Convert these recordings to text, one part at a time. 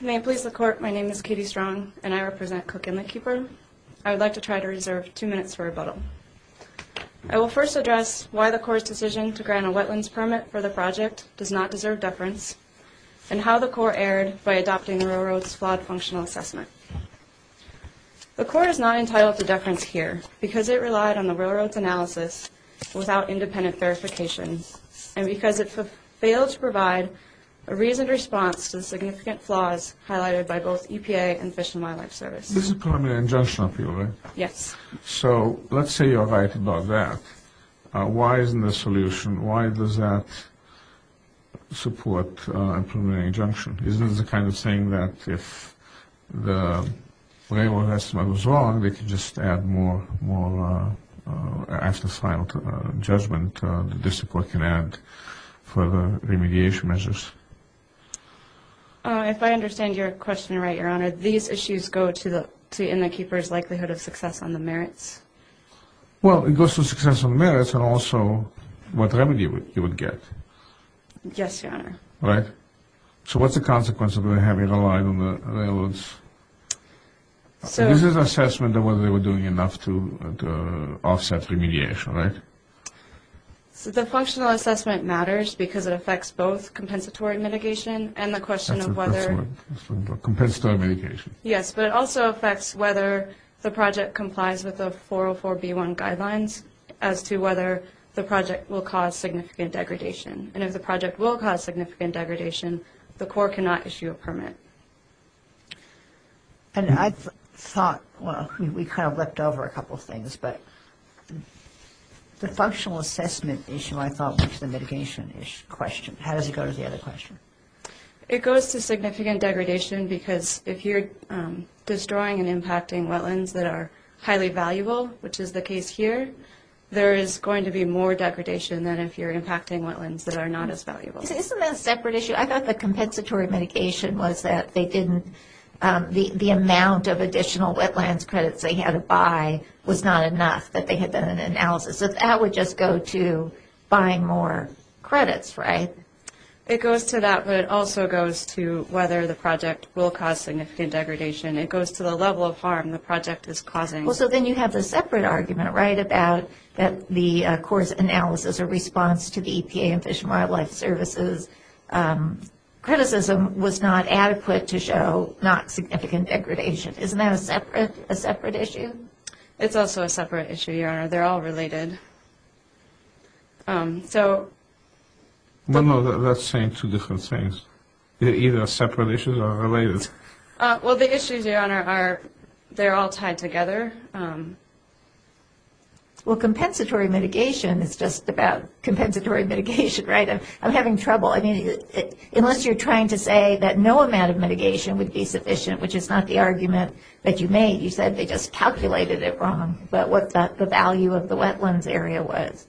My name is Katie Strong and I represent Cook Inletkeeper. I would like to try to reserve two minutes for rebuttal. I will first address why the Corps' decision to grant a wetlands permit for the project does not deserve deference and how the Corps erred by adopting the Railroad's flawed functional assessment. The Corps is not entitled to deference here because it relied on the Railroad's analysis without independent verification and because it failed to provide a reasoned response to the significant flaws highlighted by both EPA and Fish and Wildlife Service. This is a preliminary injunction appeal, right? Yes. So let's say you're right about that. Why isn't there a solution? Why does that support a preliminary injunction? Isn't this a kind of saying that if the Railroad estimate was wrong, they could just add more after-sale judgment that this report can add for the remediation measures? If I understand your question right, Your Honor, these issues go to the Inletkeeper's likelihood of success on the merits? Well, it goes to success on the merits and also what remedy you would get. Yes, Your Honor. Right. So what's the consequence of having it relied on the Railroad's? This is an assessment of whether they were doing enough to offset remediation, right? The functional assessment matters because it affects both compensatory mitigation and the question of whether... Compensatory mitigation. Yes, but it also affects whether the project complies with the 404b1 guidelines as to whether the project will cause significant degradation. And if the project will cause significant degradation, the court cannot issue a permit. And I thought, well, we kind of leapt over a couple of things, but the functional assessment issue I thought was the mitigation-ish question. How does it go to the other question? It goes to significant degradation because if you're destroying and impacting wetlands that are highly valuable, which is the case here, there is going to be more degradation than if you're impacting wetlands that are not as valuable. Isn't that a separate issue? I thought the compensatory mitigation was that they didn't... the amount of additional wetlands credits they had to buy was not enough, that they had done an analysis. So that would just go to buying more credits, right? It goes to that, but it also goes to whether the project will cause significant degradation. It goes to the level of harm the project is causing. Well, so then you have the separate argument, right, about that the court's analysis or response to the EPA and Fish and Wildlife Service's criticism was not adequate to show not significant degradation. Isn't that a separate issue? It's also a separate issue, Your Honor. They're all related. So... No, no, that's saying two different things. They're either separate issues or related. Well, the issues, Your Honor, they're all tied together. Well, compensatory mitigation is just about compensatory mitigation, right? I'm having trouble. I mean, unless you're trying to say that no amount of mitigation would be sufficient, which is not the argument that you made. You said they just calculated it wrong about what the value of the wetlands area was.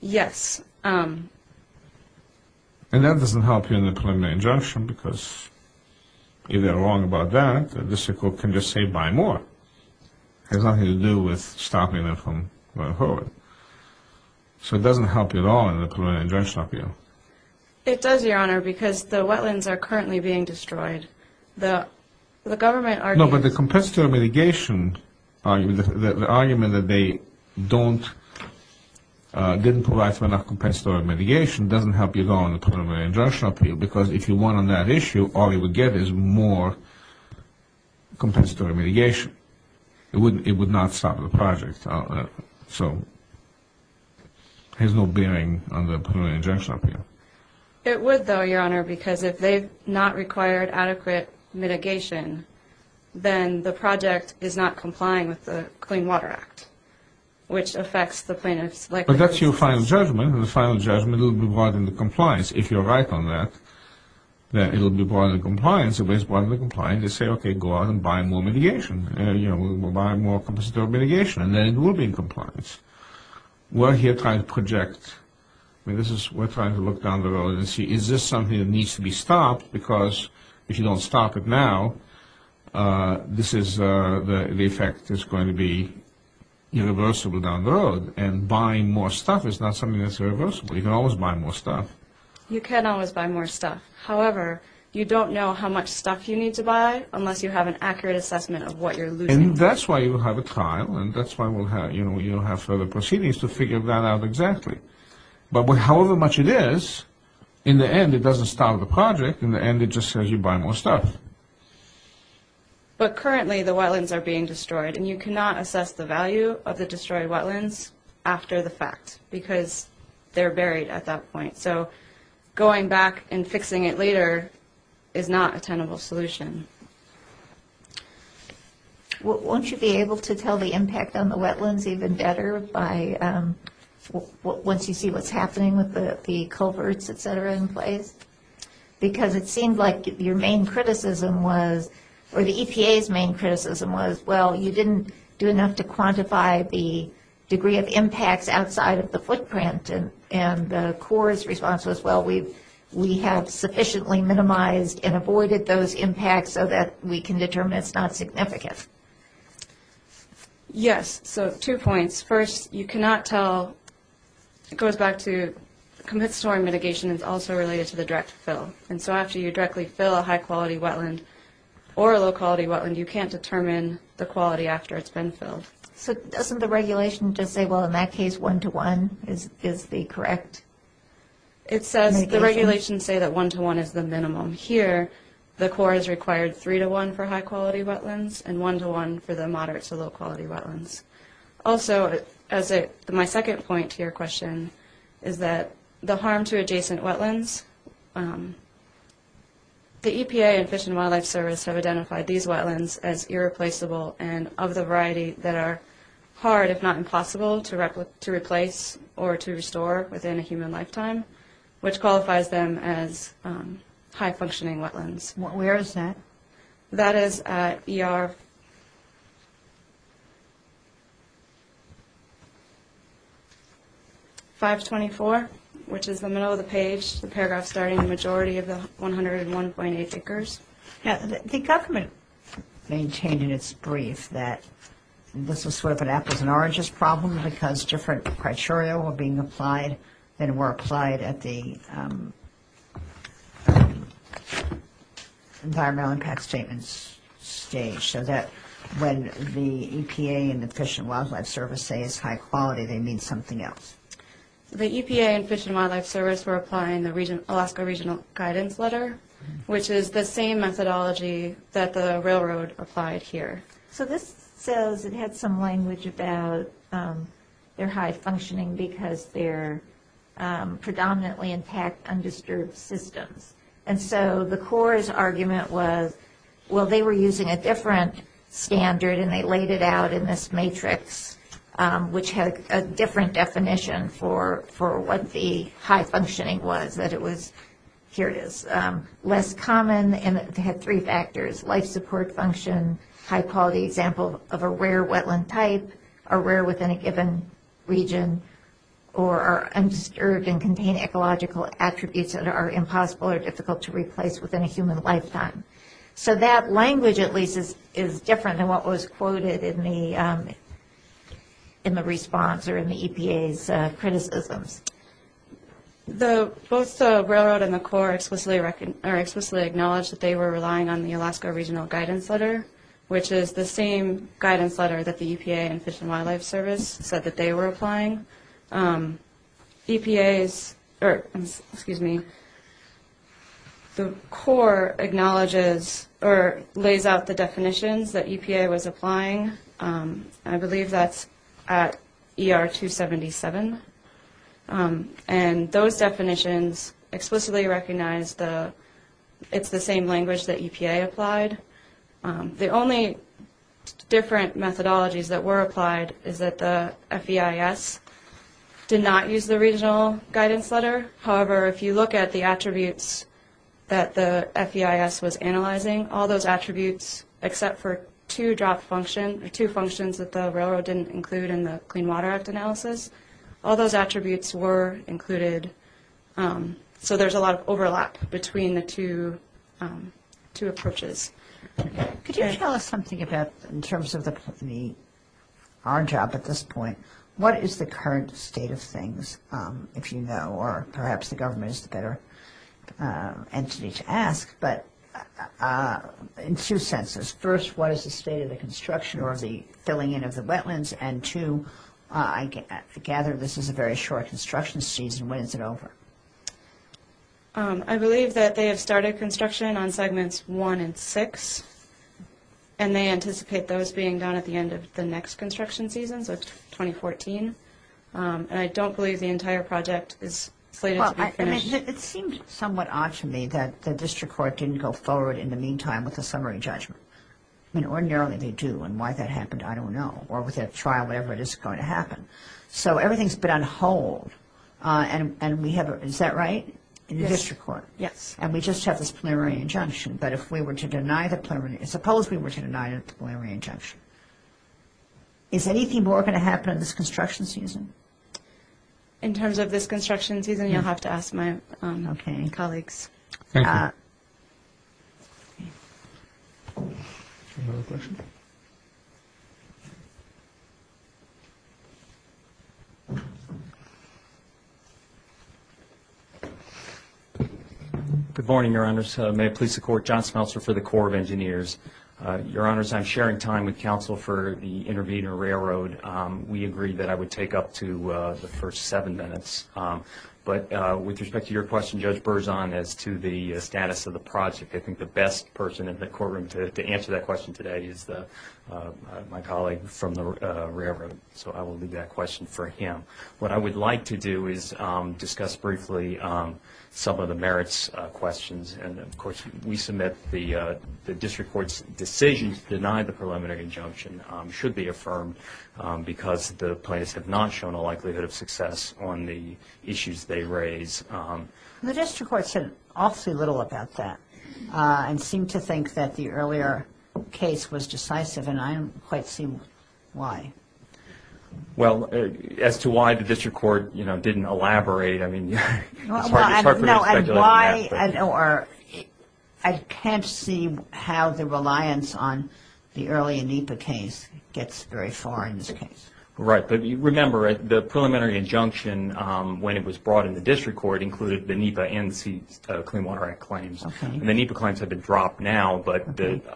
Yes. And that doesn't help you in the preliminary injunction because if they're wrong about that, the district court can just say buy more. It has nothing to do with stopping them from going forward. So it doesn't help you at all in the preliminary injunction appeal. It does, Your Honor, because the wetlands are currently being destroyed. The government argument... No, but the compensatory mitigation argument, the argument that they didn't provide enough compensatory mitigation doesn't help you at all in the preliminary injunction appeal because if you won on that issue, all you would get is more compensatory mitigation. It would not stop the project. So there's no bearing on the preliminary injunction appeal. It would, though, Your Honor, because if they've not required adequate mitigation, then the project is not complying with the Clean Water Act, which affects the plaintiff's likelihood... But that's your final judgment, and the final judgment will be brought into compliance. If you're right on that, then it will be brought into compliance. It will be brought into compliance. They say, okay, go out and buy more mitigation. We'll buy more compensatory mitigation, and then it will be in compliance. We're here trying to project. We're trying to look down the road and see is this something that needs to be stopped because if you don't stop it now, the effect is going to be irreversible down the road, and buying more stuff is not something that's irreversible. You can always buy more stuff. You can always buy more stuff. However, you don't know how much stuff you need to buy unless you have an accurate assessment of what you're losing. And that's why you have a trial, and that's why you don't have further proceedings to figure that out exactly. But however much it is, in the end, it doesn't stop the project. In the end, it just says you buy more stuff. But currently, the wetlands are being destroyed, and you cannot assess the value of the destroyed wetlands after the fact because they're buried at that point. So going back and fixing it later is not a tenable solution. Won't you be able to tell the impact on the wetlands even better once you see what's happening with the culverts, et cetera, in place? Because it seemed like your main criticism was, or the EPA's main criticism was, well, you didn't do enough to quantify the degree of impacts outside of the footprint, and the Corps' response was, well, we have sufficiently minimized and avoided those impacts so that we can determine it's not significant. Yes, so two points. First, you cannot tell – it goes back to compensatory mitigation is also related to the direct fill. And so after you directly fill a high-quality wetland or a low-quality wetland, you can't determine the quality after it's been filled. So doesn't the regulation just say, well, in that case, one-to-one is the correct mitigation? It says the regulations say that one-to-one is the minimum. Here the Corps has required three-to-one for high-quality wetlands and one-to-one for the moderate-to-low-quality wetlands. Also, my second point to your question is that the harm to adjacent wetlands, the EPA and Fish and Wildlife Service have identified these wetlands as irreplaceable and of the variety that are hard, if not impossible, to replace or to restore within a human lifetime, which qualifies them as high-functioning wetlands. Where is that? That is at ER 524, which is the middle of the page, the paragraph starting the majority of the 101.8 acres. The government maintained in its brief that this was sort of an apples-and-oranges problem because different criteria were being applied and were applied at the environmental impact statements stage, so that when the EPA and the Fish and Wildlife Service say it's high-quality, they mean something else. The EPA and Fish and Wildlife Service were applying the Alaska Regional Guidance Letter, which is the same methodology that the railroad applied here. So this says it had some language about they're high-functioning because they're predominantly intact, undisturbed systems. And so the CORE's argument was, well, they were using a different standard and they laid it out in this matrix, which had a different definition for what the high-functioning was, that it was less common, and it had three factors, life support function, high-quality example of a rare wetland type, are rare within a given region, or are undisturbed and contain ecological attributes that are impossible or difficult to replace within a human lifetime. So that language, at least, is different than what was quoted in the response or in the EPA's criticisms. Both the railroad and the CORE explicitly acknowledge that they were relying on the Alaska Regional Guidance Letter, which is the same guidance letter that the EPA and Fish and Wildlife Service said that they were applying. The CORE acknowledges or lays out the definitions that EPA was applying. I believe that's at ER 277. And those definitions explicitly recognize it's the same language that EPA applied. The only different methodologies that were applied is that the FEIS did not use the Regional Guidance Letter. However, if you look at the attributes that the FEIS was analyzing, all those attributes, except for two functions that the railroad didn't include in the Clean Water Act analysis, all those attributes were included. So there's a lot of overlap between the two approaches. Could you tell us something about, in terms of our job at this point, what is the current state of things, if you know, or perhaps the government is the better entity to ask. But in two senses. First, what is the state of the construction or the filling in of the wetlands? And two, I gather this is a very short construction season. When is it over? I believe that they have started construction on segments one and six, and they anticipate those being done at the end of the next construction season, so 2014. And I don't believe the entire project is slated to be finished. It seems somewhat odd to me that the district court didn't go forward in the meantime with a summary judgment. I mean, ordinarily they do, and why that happened, I don't know. Or with a trial, whatever it is going to happen. So everything has been on hold, and we have a, is that right, in the district court? Yes. And we just have this preliminary injunction. But if we were to deny the preliminary, suppose we were to deny the preliminary injunction, is anything more going to happen in this construction season? In terms of this construction season, you'll have to ask my colleagues. Thank you. Good morning, Your Honors. May I please support John Smeltzer for the Corps of Engineers? Your Honors, I'm sharing time with counsel for the Intervenor Railroad. We agreed that I would take up to the first seven minutes. But with respect to your question, Judge Berzon, as to the status of the project, I think the best person in the courtroom to answer that question today is my colleague from the railroad. So I will leave that question for him. What I would like to do is discuss briefly some of the merits questions. And, of course, we submit the district court's decision to deny the preliminary injunction should be affirmed because the plaintiffs have not shown a likelihood of success on the issues they raise. The district court said awfully little about that and seemed to think that the earlier case was decisive, and I don't quite see why. Well, as to why the district court, you know, didn't elaborate, I mean, it's hard for me to speculate on that. I can't see how the reliance on the earlier NEPA case gets very far in this case. Right. But remember, the preliminary injunction, when it was brought in the district court, included the NEPA and the Clean Water Act claims. And the NEPA claims have been dropped now, but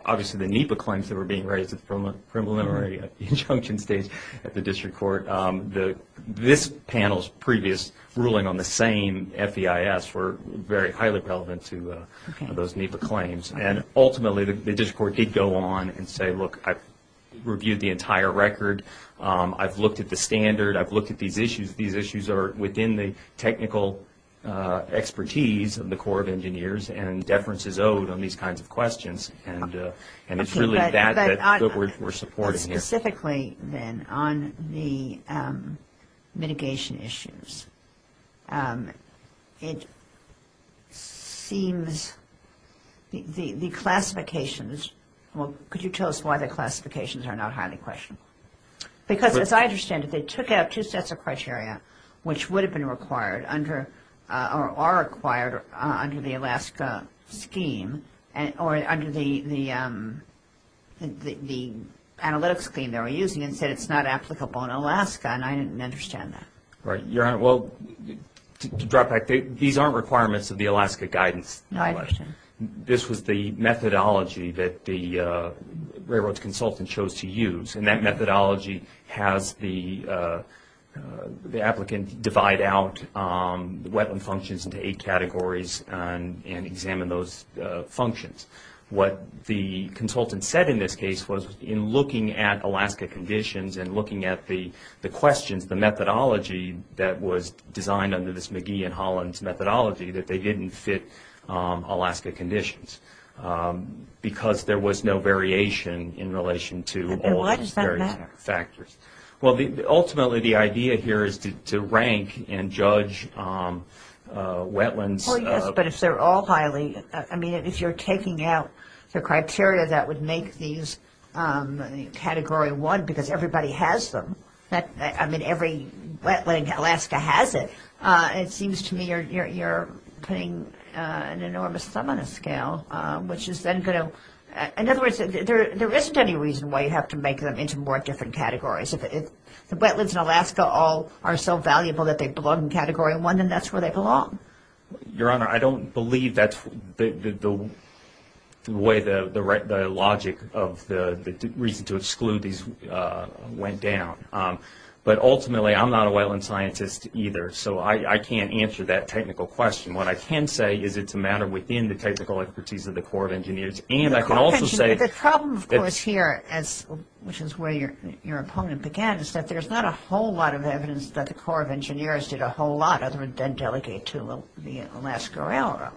obviously the NEPA claims that were being raised at the preliminary injunction stage at the district court, this panel's previous ruling on the same FEIS were very highly relevant to those NEPA claims. And ultimately, the district court did go on and say, look, I've reviewed the entire record. I've looked at the standard. I've looked at these issues. These issues are within the technical expertise of the Corps of Engineers and deference is owed on these kinds of questions. And it's really that that we're supporting here. Specifically, then, on the mitigation issues, it seems the classifications, well, could you tell us why the classifications are not highly questionable? Because as I understand it, they took out two sets of criteria which would have been required under or are required under the Alaska scheme or under the analytics scheme they were using and said it's not applicable in Alaska, and I didn't understand that. Right. Well, to drop back, these aren't requirements of the Alaska guidance. I understand. This was the methodology that the railroad consultant chose to use, and that methodology has the applicant divide out wetland functions into eight categories and examine those functions. What the consultant said in this case was in looking at Alaska conditions and looking at the questions, the methodology that was designed under this McGee and Holland's methodology that they didn't fit Alaska conditions because there was no variation in relation to all of these various factors. And why does that matter? Well, ultimately, the idea here is to rank and judge wetlands. Oh, yes, but if they're all highly, I mean, if you're taking out the criteria that would make these category one because everybody has them, I mean, every wetland in Alaska has it, it seems to me you're putting an enormous sum on a scale, which is then going to, in other words, there isn't any reason why you have to make them into more different categories. If the wetlands in Alaska all are so valuable that they belong in category one, then that's where they belong. Your Honor, I don't believe that's the way the logic of the reason to exclude these went down. But ultimately, I'm not a wetland scientist either, so I can't answer that technical question. What I can say is it's a matter within the technical expertise of the Corps of Engineers. And I can also say... The problem, of course, here, which is where your opponent began, is that there's not a whole lot of evidence that the Corps of Engineers did a whole lot, other than delegate to the Alaska Railroad.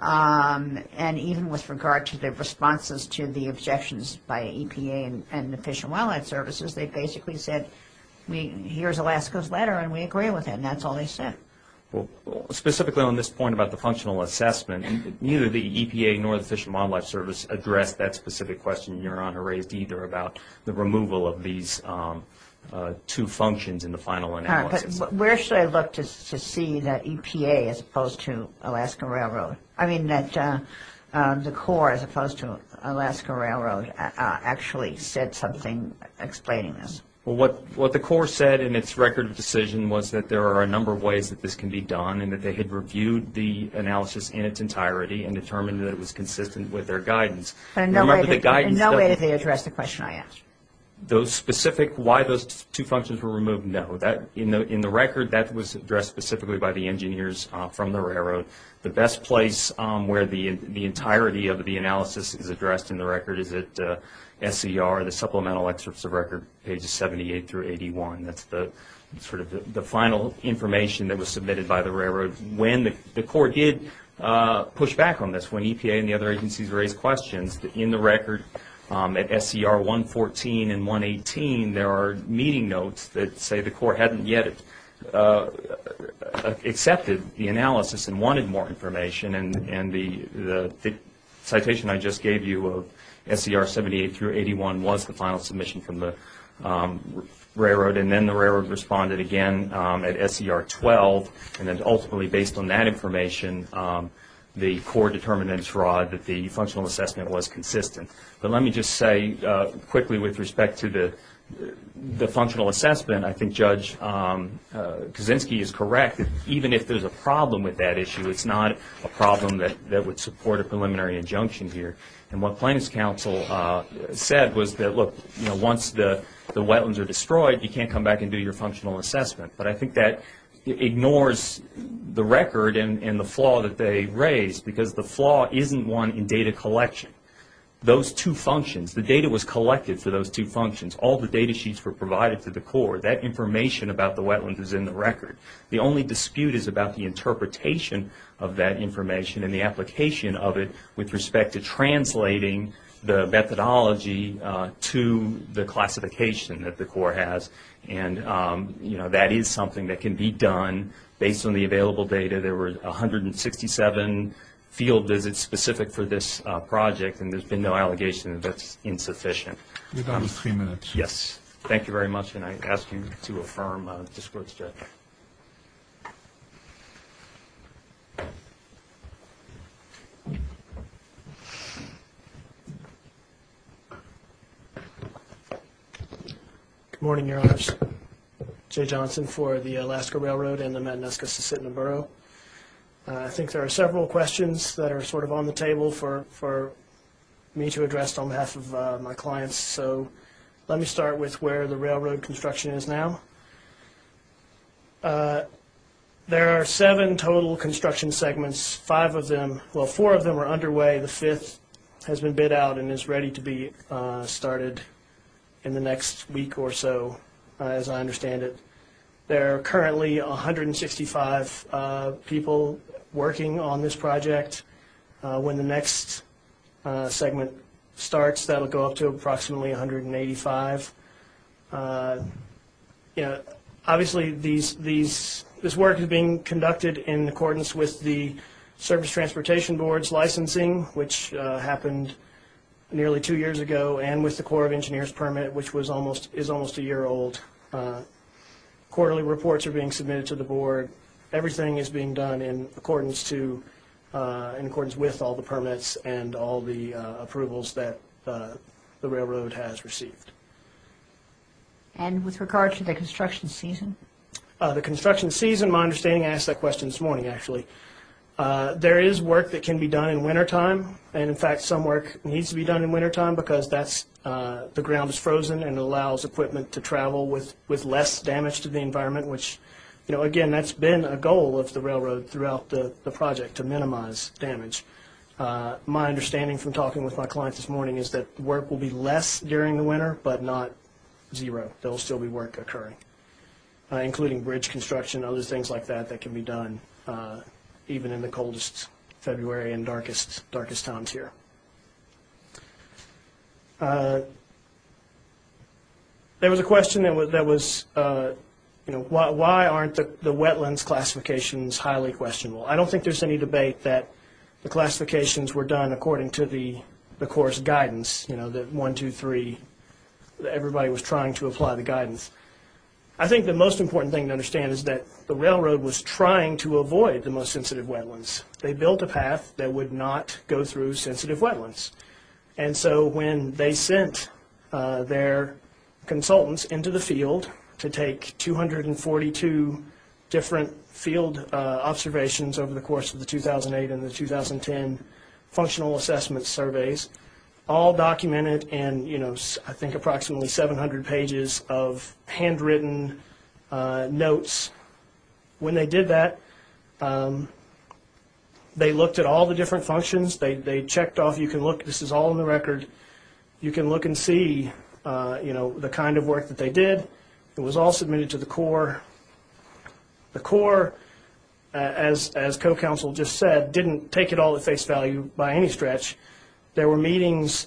And even with regard to the responses to the objections by EPA and Fish and Wildlife Services, they basically said, here's Alaska's letter and we agree with it, and that's all they said. Well, specifically on this point about the functional assessment, neither the EPA nor the Fish and Wildlife Service addressed that specific question your Honor raised either about the removal of these two functions in the final analysis. All right, but where should I look to see that EPA as opposed to Alaska Railroad? I mean that the Corps as opposed to Alaska Railroad actually said something explaining this. Well, what the Corps said in its record of decision was that there are a number of ways that this can be done and that they had reviewed the analysis in its entirety and determined that it was consistent with their guidance. But in no way did they address the question I asked. Those specific why those two functions were removed, no. In the record, that was addressed specifically by the engineers from the railroad. The best place where the entirety of the analysis is addressed in the record is at SCR, the Supplemental Excerpts of Record, pages 78 through 81. That's sort of the final information that was submitted by the railroad. When the Corps did push back on this, when EPA and the other agencies raised questions, in the record at SCR 114 and 118 there are meeting notes that say the Corps hadn't yet accepted the analysis. and wanted more information. And the citation I just gave you of SCR 78 through 81 was the final submission from the railroad. And then the railroad responded again at SCR 12. And then ultimately, based on that information, the Corps determined in its rod that the functional assessment was consistent. But let me just say quickly with respect to the functional assessment, I think Judge Kaczynski is correct that even if there's a problem with that issue, it's not a problem that would support a preliminary injunction here. And what Plaintiffs' Counsel said was that, look, once the wetlands are destroyed, you can't come back and do your functional assessment. But I think that ignores the record and the flaw that they raised, because the flaw isn't one in data collection. Those two functions, the data was collected for those two functions. All the data sheets were provided to the Corps. That information about the wetlands is in the record. The only dispute is about the interpretation of that information and the application of it with respect to translating the methodology to the classification that the Corps has. And, you know, that is something that can be done based on the available data. There were 167 field visits specific for this project, and there's been no allegation that that's insufficient. Your time is three minutes. Yes. Thank you very much, and I ask you to affirm this court's judgment. Good morning, Your Honors. Jay Johnson for the Alaska Railroad and the Madagascar-Sisseton Borough. I think there are several questions that are sort of on the table for me to address on behalf of my clients, so let me start with where the railroad construction is now. There are seven total construction segments, five of them, well, four of them are underway. The fifth has been bid out and is ready to be started in the next week or so, as I understand it. There are currently 165 people working on this project. When the next segment starts, that will go up to approximately 185. Obviously, this work is being conducted in accordance with the Service Transportation Board's licensing, which happened nearly two years ago, and with the Corps of Engineers permit, which is almost a year old. Quarterly reports are being submitted to the board. Everything is being done in accordance with all the permits and all the approvals that the railroad has received. And with regard to the construction season? The construction season, my understanding, I asked that question this morning, actually. There is work that can be done in wintertime, and, in fact, some work needs to be done in wintertime because the ground is frozen and allows equipment to travel with less damage to the environment, which, again, that's been a goal of the railroad throughout the project, to minimize damage. My understanding from talking with my clients this morning is that work will be less during the winter but not zero. There will still be work occurring, including bridge construction and other things like that that can be done, even in the coldest February and darkest times here. There was a question that was, you know, why aren't the wetlands classifications highly questionable? I don't think there's any debate that the classifications were done according to the Corps' guidance, you know, that one, two, three, everybody was trying to apply the guidance. I think the most important thing to understand is that the railroad was trying to avoid the most sensitive wetlands. They built a path that would not go through sensitive wetlands. And so when they sent their consultants into the field to take 242 different field observations over the course of the 2008 and the 2010 functional assessment surveys, all documented in, you know, I think approximately 700 pages of handwritten notes, when they did that, they looked at all the different functions. They checked off. You can look. This is all in the record. You can look and see, you know, the kind of work that they did. It was all submitted to the Corps. The Corps, as co-counsel just said, didn't take it all at face value by any stretch. There were meetings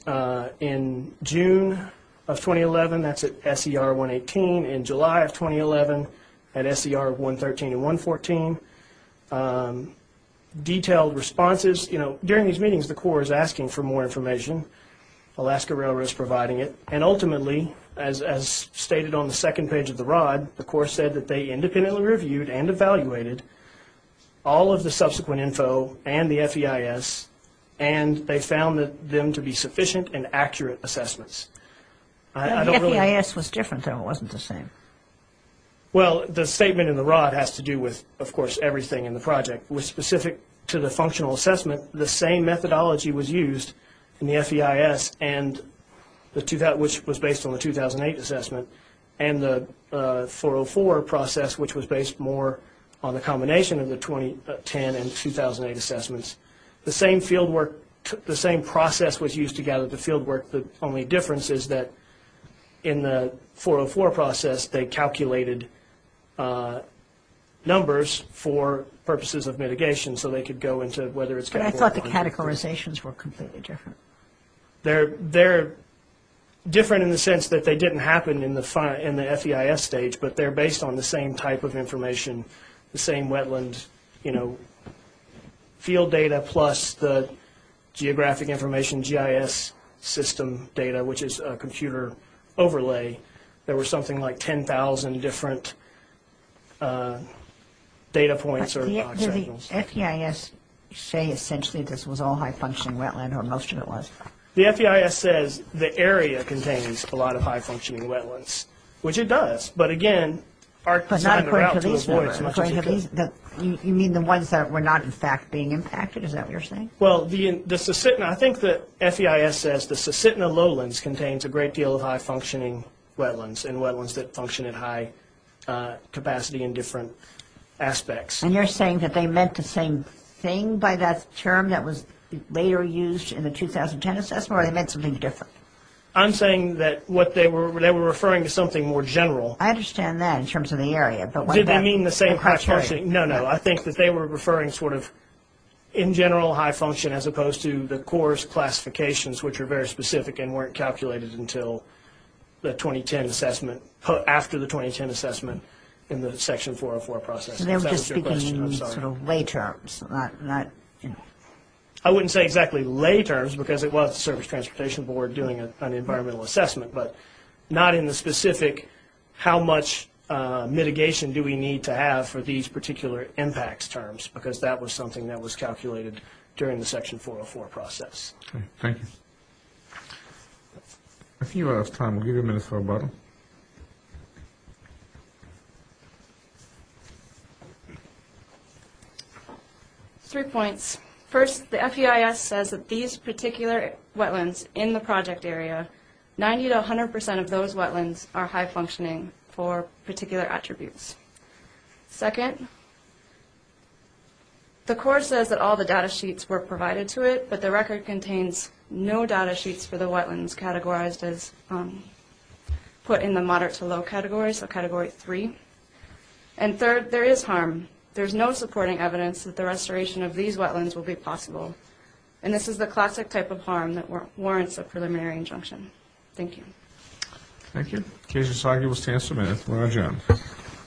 in June of 2011. That's at SER 118. In July of 2011 at SER 113 and 114, detailed responses. You know, during these meetings, the Corps is asking for more information. Alaska Railroad is providing it. And ultimately, as stated on the second page of the rod, the Corps said that they independently reviewed and evaluated all of the subsequent info and the FEIS, and they found them to be sufficient and accurate assessments. The FEIS was different, though. It wasn't the same. Well, the statement in the rod has to do with, of course, everything in the project. Specific to the functional assessment, the same methodology was used in the FEIS, which was based on the 2008 assessment, and the 404 process, which was based more on the combination of the 2010 and 2008 assessments. The same process was used to gather the fieldwork. The only difference is that in the 404 process, they calculated numbers for purposes of mitigation so they could go into whether it's categorized. But I thought the categorizations were completely different. They're different in the sense that they didn't happen in the FEIS stage, but they're based on the same type of information, the same wetland field data, plus the geographic information, GIS system data, which is a computer overlay. There were something like 10,000 different data points. Did the FEIS say essentially this was all high-functioning wetland, or most of it was? The FEIS says the area contains a lot of high-functioning wetlands, which it does. But not according to these numbers. You mean the ones that were not, in fact, being impacted? Is that what you're saying? Well, I think the FEIS says the Sasitna lowlands contains a great deal of high-functioning wetlands and wetlands that function at high capacity in different aspects. And you're saying that they meant the same thing by that term that was later used in the 2010 assessment, or they meant something different? I'm saying that they were referring to something more general. I understand that in terms of the area. Did they mean the same high-functioning? No, no. I think that they were referring sort of in general high-function as opposed to the course classifications, which are very specific and weren't calculated until the 2010 assessment, after the 2010 assessment in the Section 404 process. They were just speaking in sort of lay terms. I wouldn't say exactly lay terms, because it was the Service Transportation Board doing an environmental assessment, but not in the specific how much mitigation do we need to have for these particular impact terms, because that was something that was calculated during the Section 404 process. Okay. Thank you. If you have time, we'll give you a minute for rebuttal. Three points. First, the FEIS says that these particular wetlands in the project area, 90 to 100 percent of those wetlands are high-functioning for particular attributes. Second, the Corps says that all the data sheets were provided to it, but the record contains no data sheets for the wetlands categorized as put in the moderate to low category, so Category 3. And third, there is harm. There's no supporting evidence that the restoration of these wetlands will be possible, and this is the classic type of harm that warrants a preliminary injunction. Thank you. Thank you. In case you're still arguing, we'll stand for a minute. We're going to adjourn.